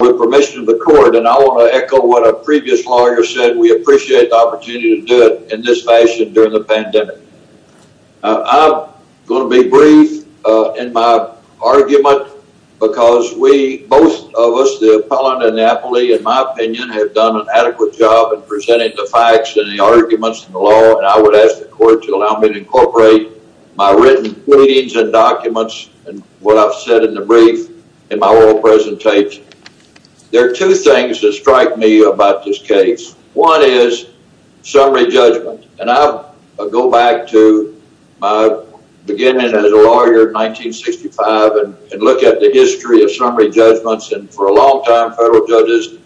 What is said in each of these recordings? with permission of the court. And I want to echo what a previous lawyer said. We appreciate the opportunity to do it in this fashion during the pandemic. I'm going to be brief in my argument because we, both of us, the appellant and the appellee, in my opinion, have done an adequate job in presenting the facts and the arguments in the law. And I would ask the court to allow me to incorporate my written readings and documents and what I've said in the brief in my oral presentation. There are two things that strike me about this case. One is summary judgment. And I go back to my beginning as a lawyer in 1965 and look at the history of summary judgments. And for a long time, federal judges,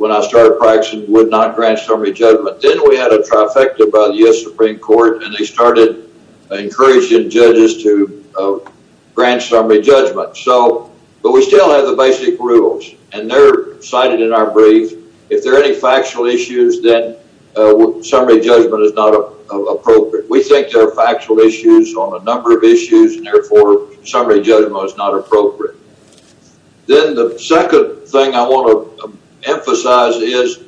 when I started practicing, would not grant summary judgment. Then we had a trifecta by the U.S. Supreme Court, and they started encouraging judges to grant summary judgment. But we still have the basic rules, and they're cited in our brief. If there are any factual issues, then summary judgment is not appropriate. We think there are factual issues on a number of issues, and therefore, summary judgment is not appropriate. Then the second thing I want to emphasize is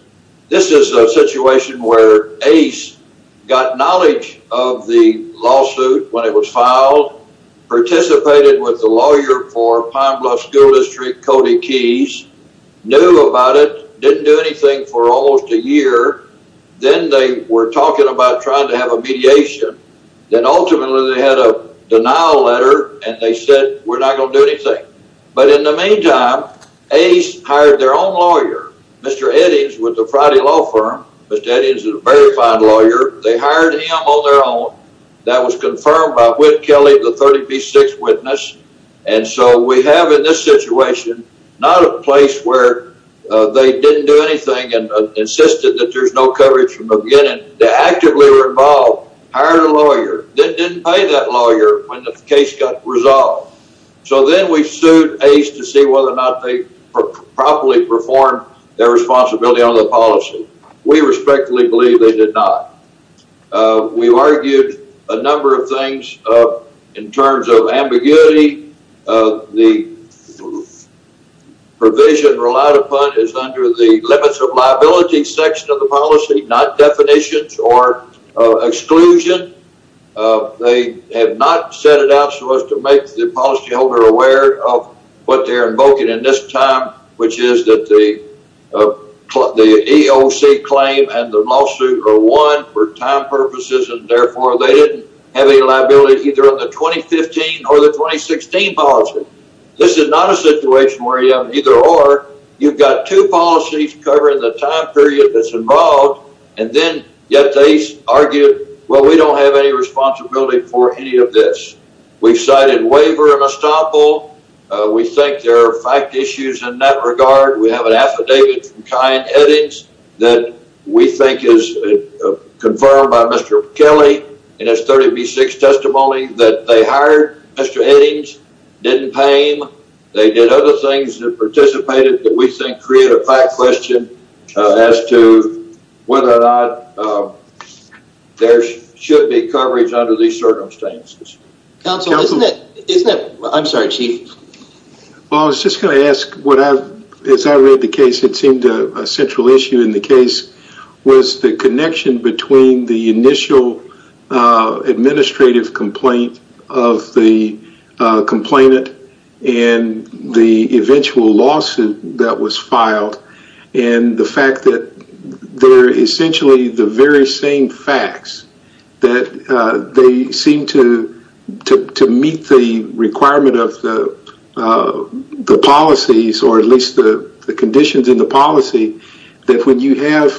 this is a situation where Ace got knowledge of the lawsuit when it was filed, participated with the lawyer for Pine Bluff School District, Cody Keyes, knew about it, didn't do anything for almost a year. Then they were talking about trying to have a mediation. Then ultimately, they had a denial letter, and they said, we're not going to do anything. But in the meantime, Ace hired their own lawyer, Mr. Eddings, with the Friday Law Firm. Mr. Eddings is a very fine lawyer. They hired him on their own. That was confirmed by Whit Kelly, the 30P6 witness. And so we have in this situation not a place where they didn't do anything and insisted that there's no coverage from the beginning. They actively were involved, hired a lawyer, then properly performed their responsibility on the policy. We respectfully believe they did not. We've argued a number of things in terms of ambiguity. The provision relied upon is under the limits of liability section of the policy, not definitions or exclusion. They have not set it out so as to make the policyholder aware of what they're invoking in this time, which is that the EOC claim and the lawsuit are one for time purposes, and therefore they didn't have any liability either on the 2015 or the 2016 policy. This is not a situation where you have either or. You've got two policies covering the time period that's involved, and then yet they argued, well, we don't have any responsibility for any of this. We've cited waiver and estoppel. We think there are fact issues in that regard. We have an affidavit from Kyan Eddings that we think is confirmed by Mr. Kelly in his 30P6 testimony that they hired Mr. Eddings, didn't pay him. They did other things that participated that we think create a fact question as to whether or not there should be coverage under these circumstances. Counsel, isn't it... I'm sorry, Chief. Well, I was just going to ask, as I read the case, it seemed a central issue in the case was the connection between the initial administrative complaint of the complainant and the eventual lawsuit that was filed and the fact that they're essentially the very same facts that they seem to meet the requirement of the policies or at least the conditions in the policy that when you have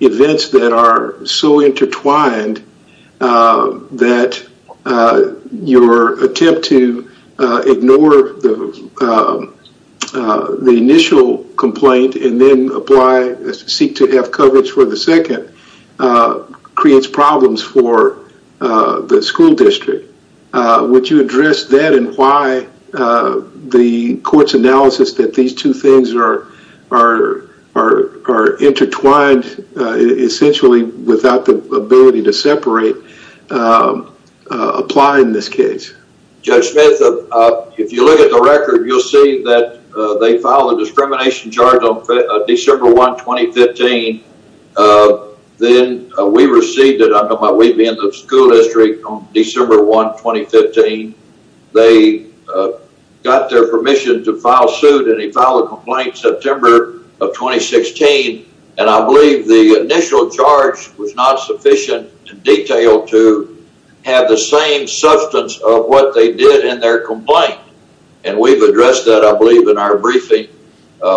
events that are so intertwined that your attempt to ignore the initial complaint and then seek to have coverage for the second creates problems for the school district. Would you address that and why the court's analysis that these two things are intertwined essentially without the ability to separate apply in this case? Judge Smith, if you look at the record, you'll see that they filed a discrimination charge on December 1, 2015. Then we received it. I'm talking about September of 2016. And I believe the initial charge was not sufficient in detail to have the same substance of what they did in their complaint. And we've addressed that, I believe, in our briefing.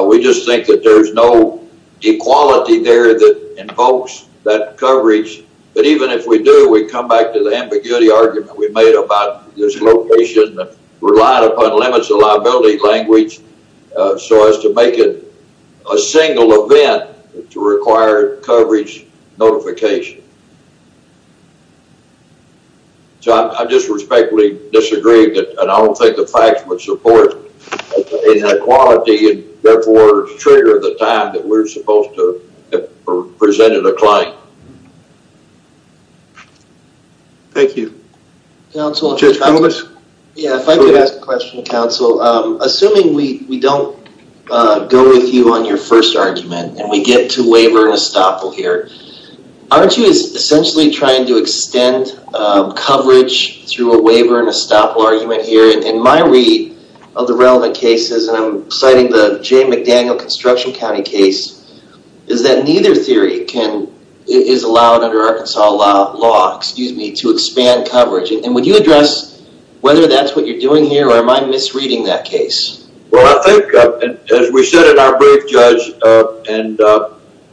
We just think that there's no equality there that invokes that coverage. But even if we do, we come back to the ambiguity argument we made about this location relying upon limits of liability language so as to make it a single event to require coverage notification. So I just respectfully disagree that I don't think the facts would support inequality and therefore trigger the time that we're supposed to have presented a claim. Thank you. Judge Koumoulis? Yeah, if I could ask a question, counsel. Assuming we don't go with you on your first argument and we get to waiver and estoppel here, aren't you essentially trying to extend coverage through a waiver and estoppel argument here? In my read of the relevant cases, and I'm citing the J. McDaniel Construction County case, is that neither theory is allowed under Arkansas law to expand coverage. And would you address whether that's what you're doing here or am I misreading that case? Well, I think as we said in our brief, Judge, and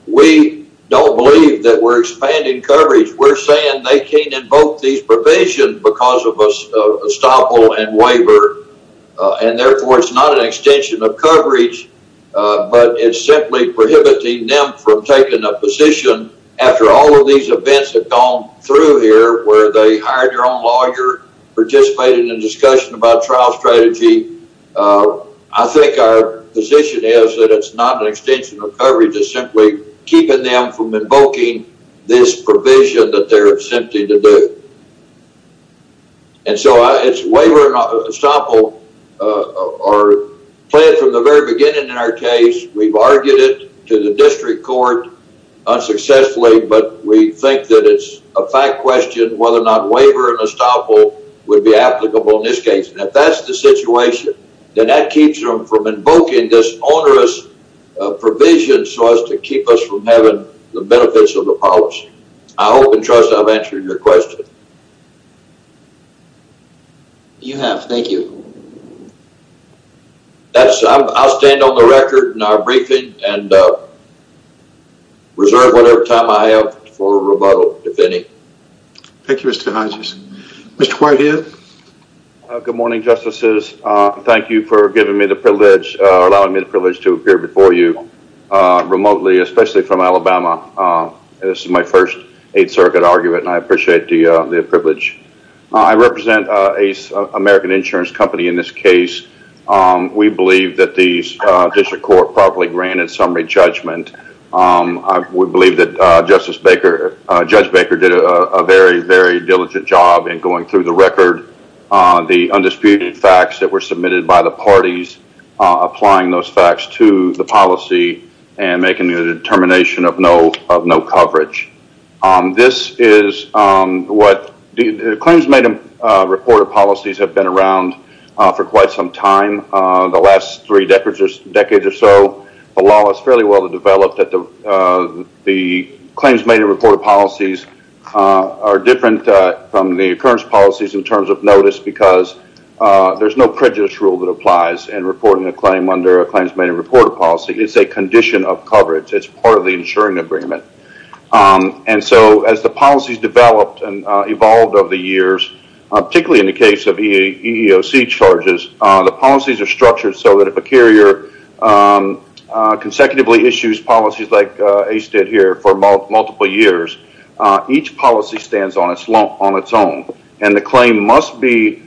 we don't believe that we're expanding coverage. We're saying they can't invoke these provisions because of estoppel and waiver, and therefore it's not an extension of coverage, but it's simply prohibiting them from taking a position after all of these events have gone through here where they hired their own lawyer, participating in discussion about trial strategy. I think our position is that it's not an extension of coverage. It's simply keeping them from invoking this provision that they're attempting to do. And so it's waiver and estoppel are planned from the very beginning in our case. We've argued it to the district court unsuccessfully, but we think that it's a fact question whether or not waiver and estoppel would be applicable in this case. And if that's the situation, then that keeps them from invoking this onerous provision so as to keep us from having the benefits of the policy. I hope and trust I've answered your question. You have. Thank you. I'll stand on the record in our briefing and reserve whatever time I have for rebuttal, if any. Thank you, Mr. Hodges. Mr. Whitehead. Good morning, Justices. Thank you for giving me the privilege, allowing me the privilege to appear before you remotely, especially from Alabama. This is my first Eighth Circuit argument, and I appreciate the privilege. I represent an American insurance company in this case. We believe that the district court properly granted summary judgment. We believe that Judge Baker did a very, very diligent job in going through the record, the undisputed facts that were submitted by the parties, applying those facts to the policy, and making a determination of no coverage. This is what the claims made in reported policies have been around for quite some time. The last three decades or so, the law is fairly well developed that the claims made in reported policies are different from the occurrence policies in terms of notice because there's no prejudice rule that applies in reporting a claim under a claims made in reported policy. It's a condition of coverage. It's part of the insuring agreement. As the policies developed and evolved over the years, particularly in the case of EEOC charges, the policies are structured so that if a carrier consecutively issues policies like Ace did here for multiple years, each policy stands on its own, and the claim must be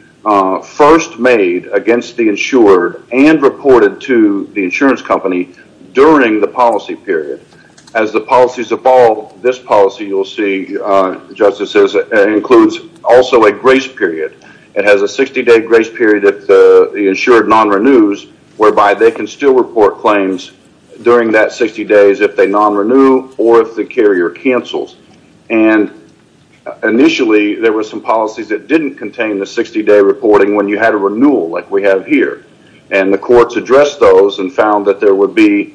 first made against the insured and reported to the insurance company during the policy period. As the policies evolved, this policy you'll see, Justice, includes also a grace period. It has a 60-day grace period if the insured non-renews whereby they can still report claims during that 60 days if they non-renew or if the carrier cancels. Initially, there were some policies that didn't contain the 60-day reporting when you had a renewal like we have here. The courts addressed those and found that in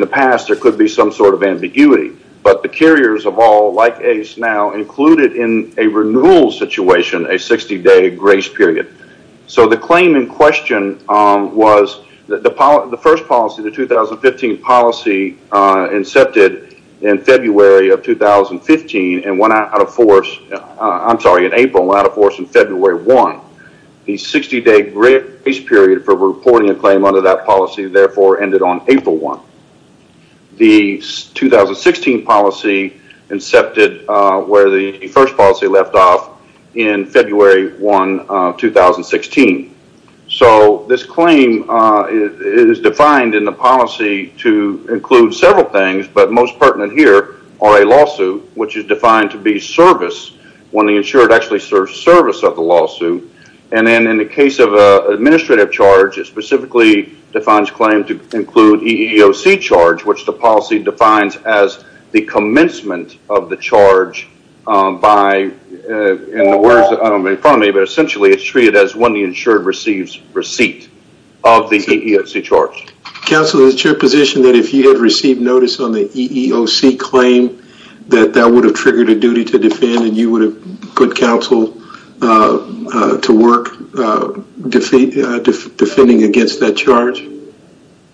the past, there could be some sort of ambiguity, but the carriers of all like Ace now included in a renewal situation a 60-day grace period. The claim in question was the first policy, the 2015 policy, incepted in April and went out of force in February 1. The 60-day grace period for reporting a claim under that policy, therefore, ended on April 1. The 2016 policy incepted where the first left off in February 1, 2016. This claim is defined in the policy to include several things, but most pertinent here are a lawsuit, which is defined to be service when the insured actually serves service of the lawsuit. In the case of an administrative charge, it specifically defines claim to include EEOC charge, which the policy defines as the commencement of the charge by, in the words in front of me, but essentially, it's treated as when the insured receives receipt of the EEOC charge. Counsel, is it your position that if you had received notice on the EEOC claim that that would have triggered a duty to defend and you would have put counsel to work defending against that charge?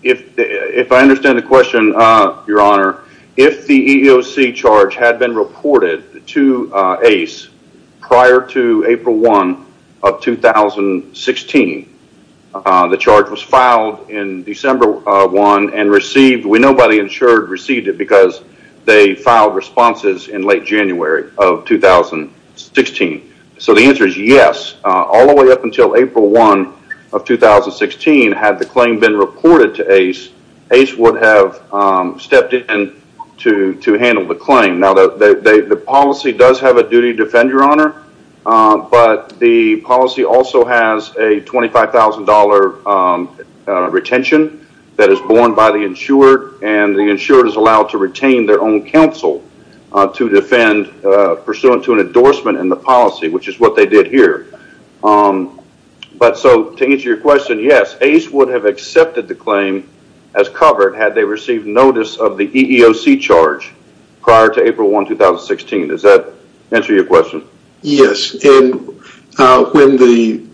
If I understand the question, Your Honor, if the EEOC charge had been reported to ACE prior to April 1 of 2016, the charge was filed in December 1 and received, we know by the insured received it because they filed responses in late January of 2016. The answer is yes. All the way up until April 1 of 2016, had the claim been reported to ACE, ACE would have stepped in to handle the claim. The policy does have a duty to defend, Your Honor, but the policy also has a $25,000 retention that is borne by the insured and the insured is allowed to retain their own counsel to defend pursuant to an endorsement in policy, which is what they did here. To answer your question, yes, ACE would have accepted the claim as covered had they received notice of the EEOC charge prior to April 1, 2016. Does that answer your question? Yes. When the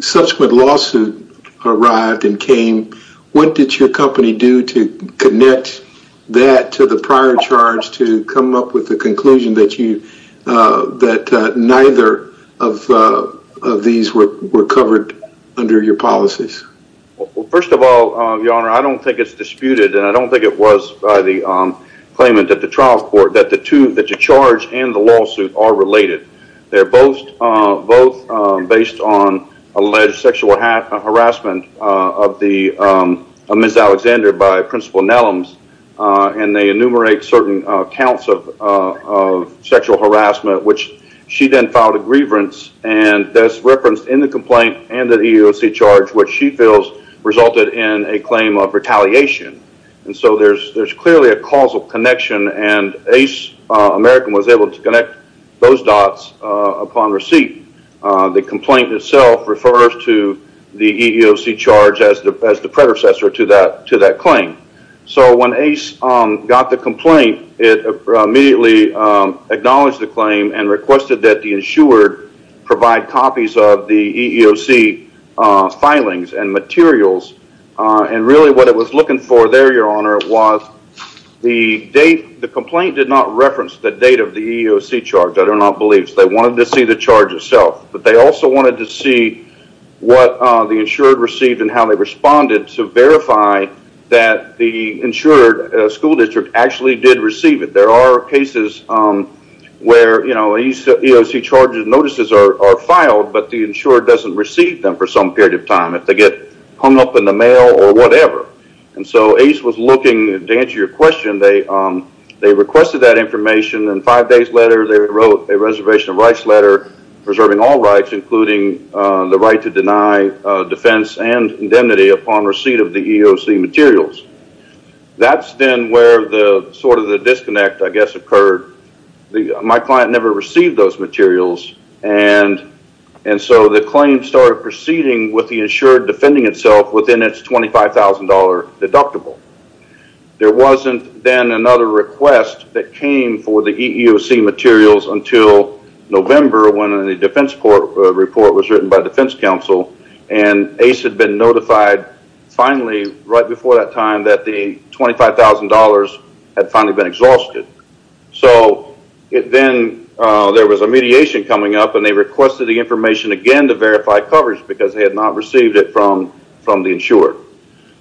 subsequent lawsuit arrived and came, what did your company do to connect that to the prior charge to come up with the conclusion that neither of these were covered under your policies? First of all, Your Honor, I don't think it's disputed and I don't think it was by the claimant at the trial court that the charge and the lawsuit are related. They're both based on alleged sexual harassment of Ms. Alexander by Principal Nelums and they enumerate certain counts of sexual harassment, which she then filed a grievance and thus referenced in the complaint and the EEOC charge, which she feels resulted in a claim of retaliation. There's clearly a causal connection and ACE American was able to connect those dots upon receipt. The complaint itself refers to the EEOC charge as the predecessor to that claim. When ACE got the complaint, it immediately acknowledged the claim and requested that the was the date. The complaint did not reference the date of the EEOC charge. I do not believe. They wanted to see the charge itself, but they also wanted to see what the insured received and how they responded to verify that the insured school district actually did receive it. There are cases where EEOC charges and notices are filed, but the insured doesn't receive them for some period of time, if they get hung up in the mail or whatever. ACE was looking to answer your question. They requested that information and five days later, they wrote a reservation of rights letter preserving all rights, including the right to deny defense and indemnity upon receipt of the EEOC materials. That's then where the disconnect, I guess, occurred. My client never received those materials and so the claim started proceeding with the insured defending itself within its $25,000 deductible. There wasn't then another request that came for the EEOC materials until November when the defense report was written by defense counsel and ACE had been notified finally right before that time that the $25,000 had finally been exhausted. So then there was a mediation coming up and they requested the information again to verify coverage because they had not received it from the insured.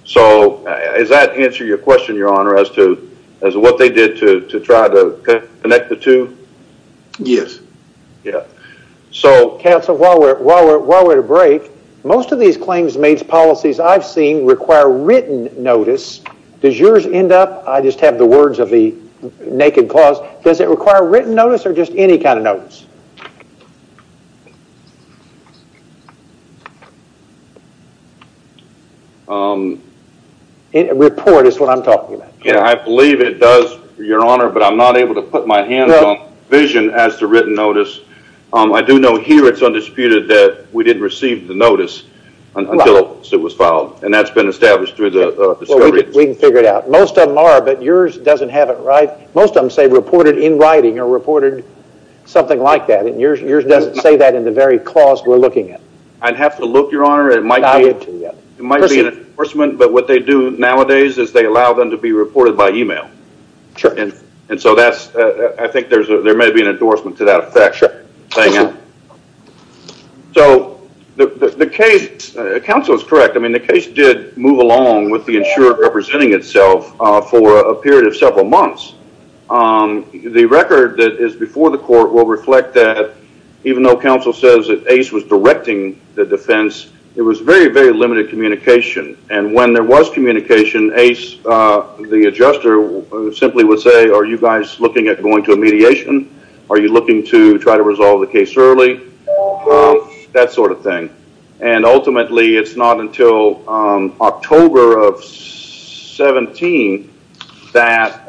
So does that answer your question, your honor, as to what they did to try to connect the two? Yes. Counsel, while we're at a break, most of these claims made policies I've seen require written notice. Does yours end up, I just have the words of the naked clause, does it require written notice or just any kind of notice? Report is what I'm talking about. Yeah, I believe it does, your honor, but I'm not able to put my hands on vision as to written notice. I do know here it's undisputed that we didn't receive the notice until it was filed and that's been established through the discovery. We can figure it out. Most of them are, but yours doesn't have it, right? Most of them say reported in writing or reported something like that. And yours doesn't say that in the very clause we're looking at. I'd have to look, your honor. It might be an endorsement, but what they do nowadays is they allow them to be reported by email. And so that's, I think there may be an endorsement to that effect. Thank you. So the case, counsel is correct. I mean, the case did move along with the insurer representing itself for a period of several months. The record that is before the court will reflect that even though counsel says that Ace was directing the defense, it was very, very limited communication. And when there was communication, Ace, the adjuster simply would say, are you guys looking at going to a mediation? Are you looking to try to resolve the case early? That sort of thing. And ultimately it's not until October of 17 that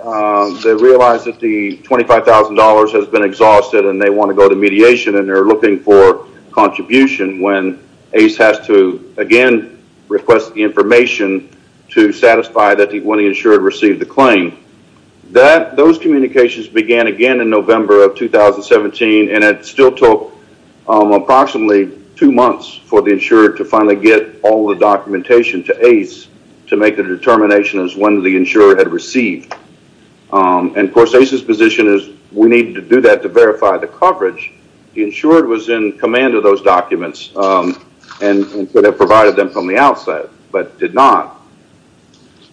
they realized that the $25,000 has been exhausted and they want to go to mediation and they're looking for contribution when Ace has to, again, request the information to satisfy that the money insured received the claim. Those communications began again in November of 2017 and it still took approximately two months for the insurer to finally get all the documentation to Ace to make the determination as when the insurer had received. And of course, Ace's position is we need to do that to verify the coverage. The insured was in command of those documents and could have provided them from the outset, but did not.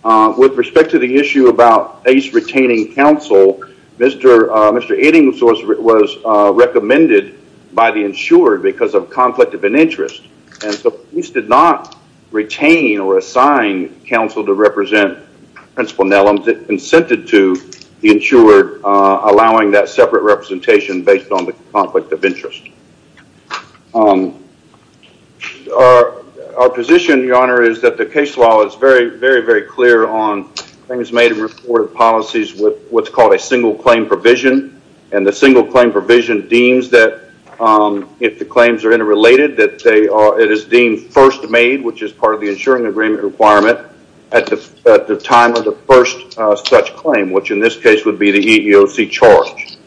With respect to the issue about Ace retaining counsel, Mr. Eddington was recommended by the insured because of conflict of an interest. And so Ace did not retain or assign counsel to represent principal Nellam, but consented to the insured allowing that separate representation based on the conflict of interest. Our position, Your Honor, is that the case law is very, very, very clear on things made and reported policies with what's called a single claim provision. And the single claim provision deems that if the claims are interrelated that it is deemed first made, which is part of the insuring agreement requirement at the time of the such claim, which in this case would be the EEOC charge.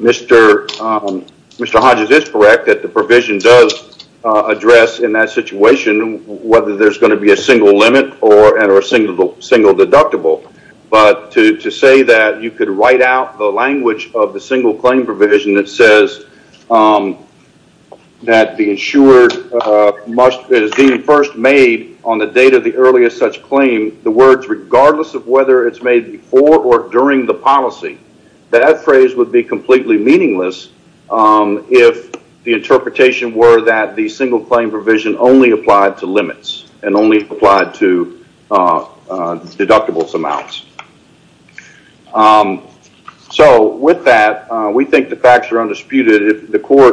Mr. Hodges is correct that the provision does address in that situation whether there's going to be a single limit or a single deductible. But to say that you could write out the language of the single claim provision that says that the insured is deemed first made on the date of the earliest such claim, the words regardless of whether it's made before or during the policy, that phrase would be completely meaningless if the interpretation were that the single claim provision only applied to limits and only applied to deductibles amounts. So with that, we think the facts are clear.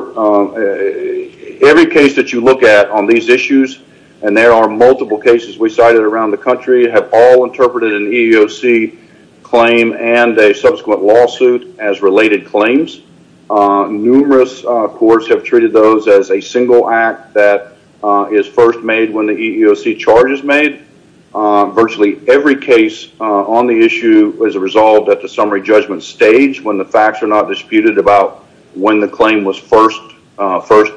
Every case that you look at on these issues, and there are multiple cases we cited around the country, have all interpreted an EEOC claim and a subsequent lawsuit as related claims. Numerous courts have treated those as a single act that is first made when the EEOC charge is made. Virtually every case on the issue is resolved at the summary judgment stage when the facts are not disputed about when the claim was first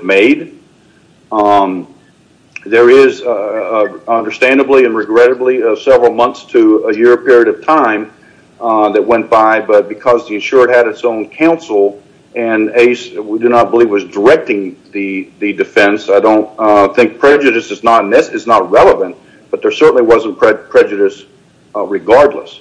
made. There is understandably and regrettably several months to a year period of time that went by, but because the insured had its own counsel and we do not believe was directing the defense, I don't think prejudice is not relevant, but there certainly wasn't prejudice regardless.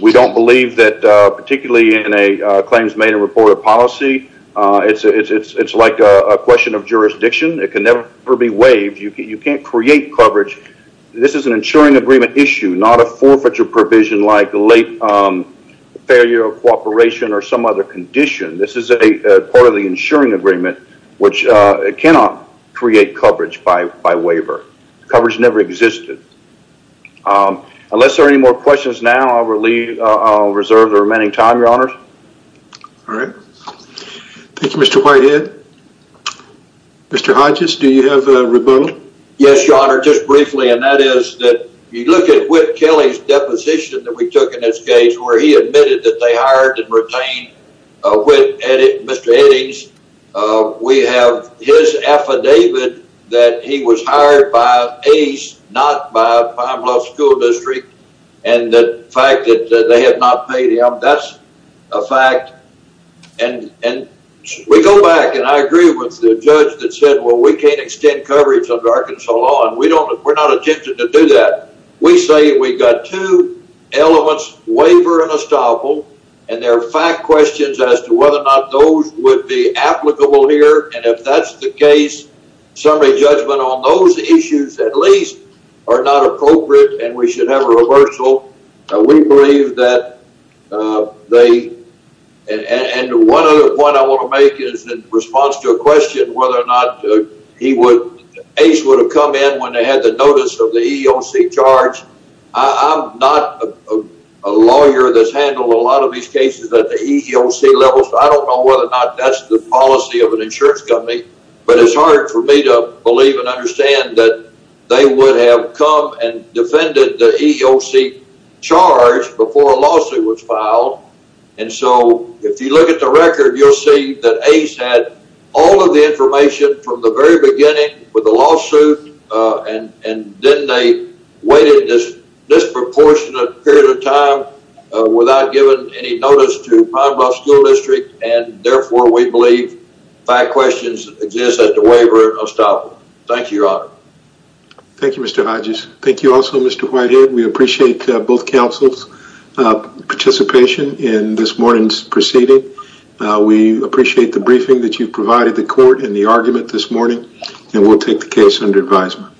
We don't believe that particularly in a claims made and reported policy, it's like a question of jurisdiction. It can never be waived. You can't create coverage. This is an insuring agreement issue, not a forfeiture provision like late failure of cooperation or some other condition. This is a part of the insuring agreement which cannot create coverage by waiver. Coverage never existed. Unless there are any more questions now, I will reserve the remaining time, your honor. All right. Thank you, Mr. Whitehead. Mr. Hodges, do you have a rebuttal? Yes, your honor, just briefly and that is that you look at Whit Kelly's deposition that we took in this case where he admitted that they hired and retained Mr. Eddings. We have his affidavit that he was hired by Ace, not by Pine Bluff School District and the fact that they had not paid him, that's a fact and we go back and I agree with the judge that said, well, we can't extend coverage under Arkansas law and we're not attempting to do that. We say we got two elements, waiver and estoppel and there are fact questions as to whether or not those would be applicable here and if that's the case, summary judgment on those issues at least are not appropriate and we should have a reversal. We believe that they and one other point I want to make is in response to a question whether or not he would, Ace would have come in when they had the notice of the EEOC charge. I'm not a lawyer that's handled a lot of these cases at the EEOC level so I don't know whether or not that's the policy of an insurance company but it's hard for me to believe and understand that they would have come and defended the EEOC charge before a lawsuit was filed and so if you look at the record, you'll see that Ace had all of the information from the very beginning with the lawsuit and then they waited this disproportionate period of time without giving any notice to Pinebrook School District and therefore we believe fact questions exist at the waiver and estoppel. Thank you, your honor. Thank you, Mr. Hodges. Thank you also, Mr. Whitehead. We appreciate both counsel's participation in this morning's proceeding. We appreciate the briefing that you've provided the court and the argument this morning and we'll take the case under advisement.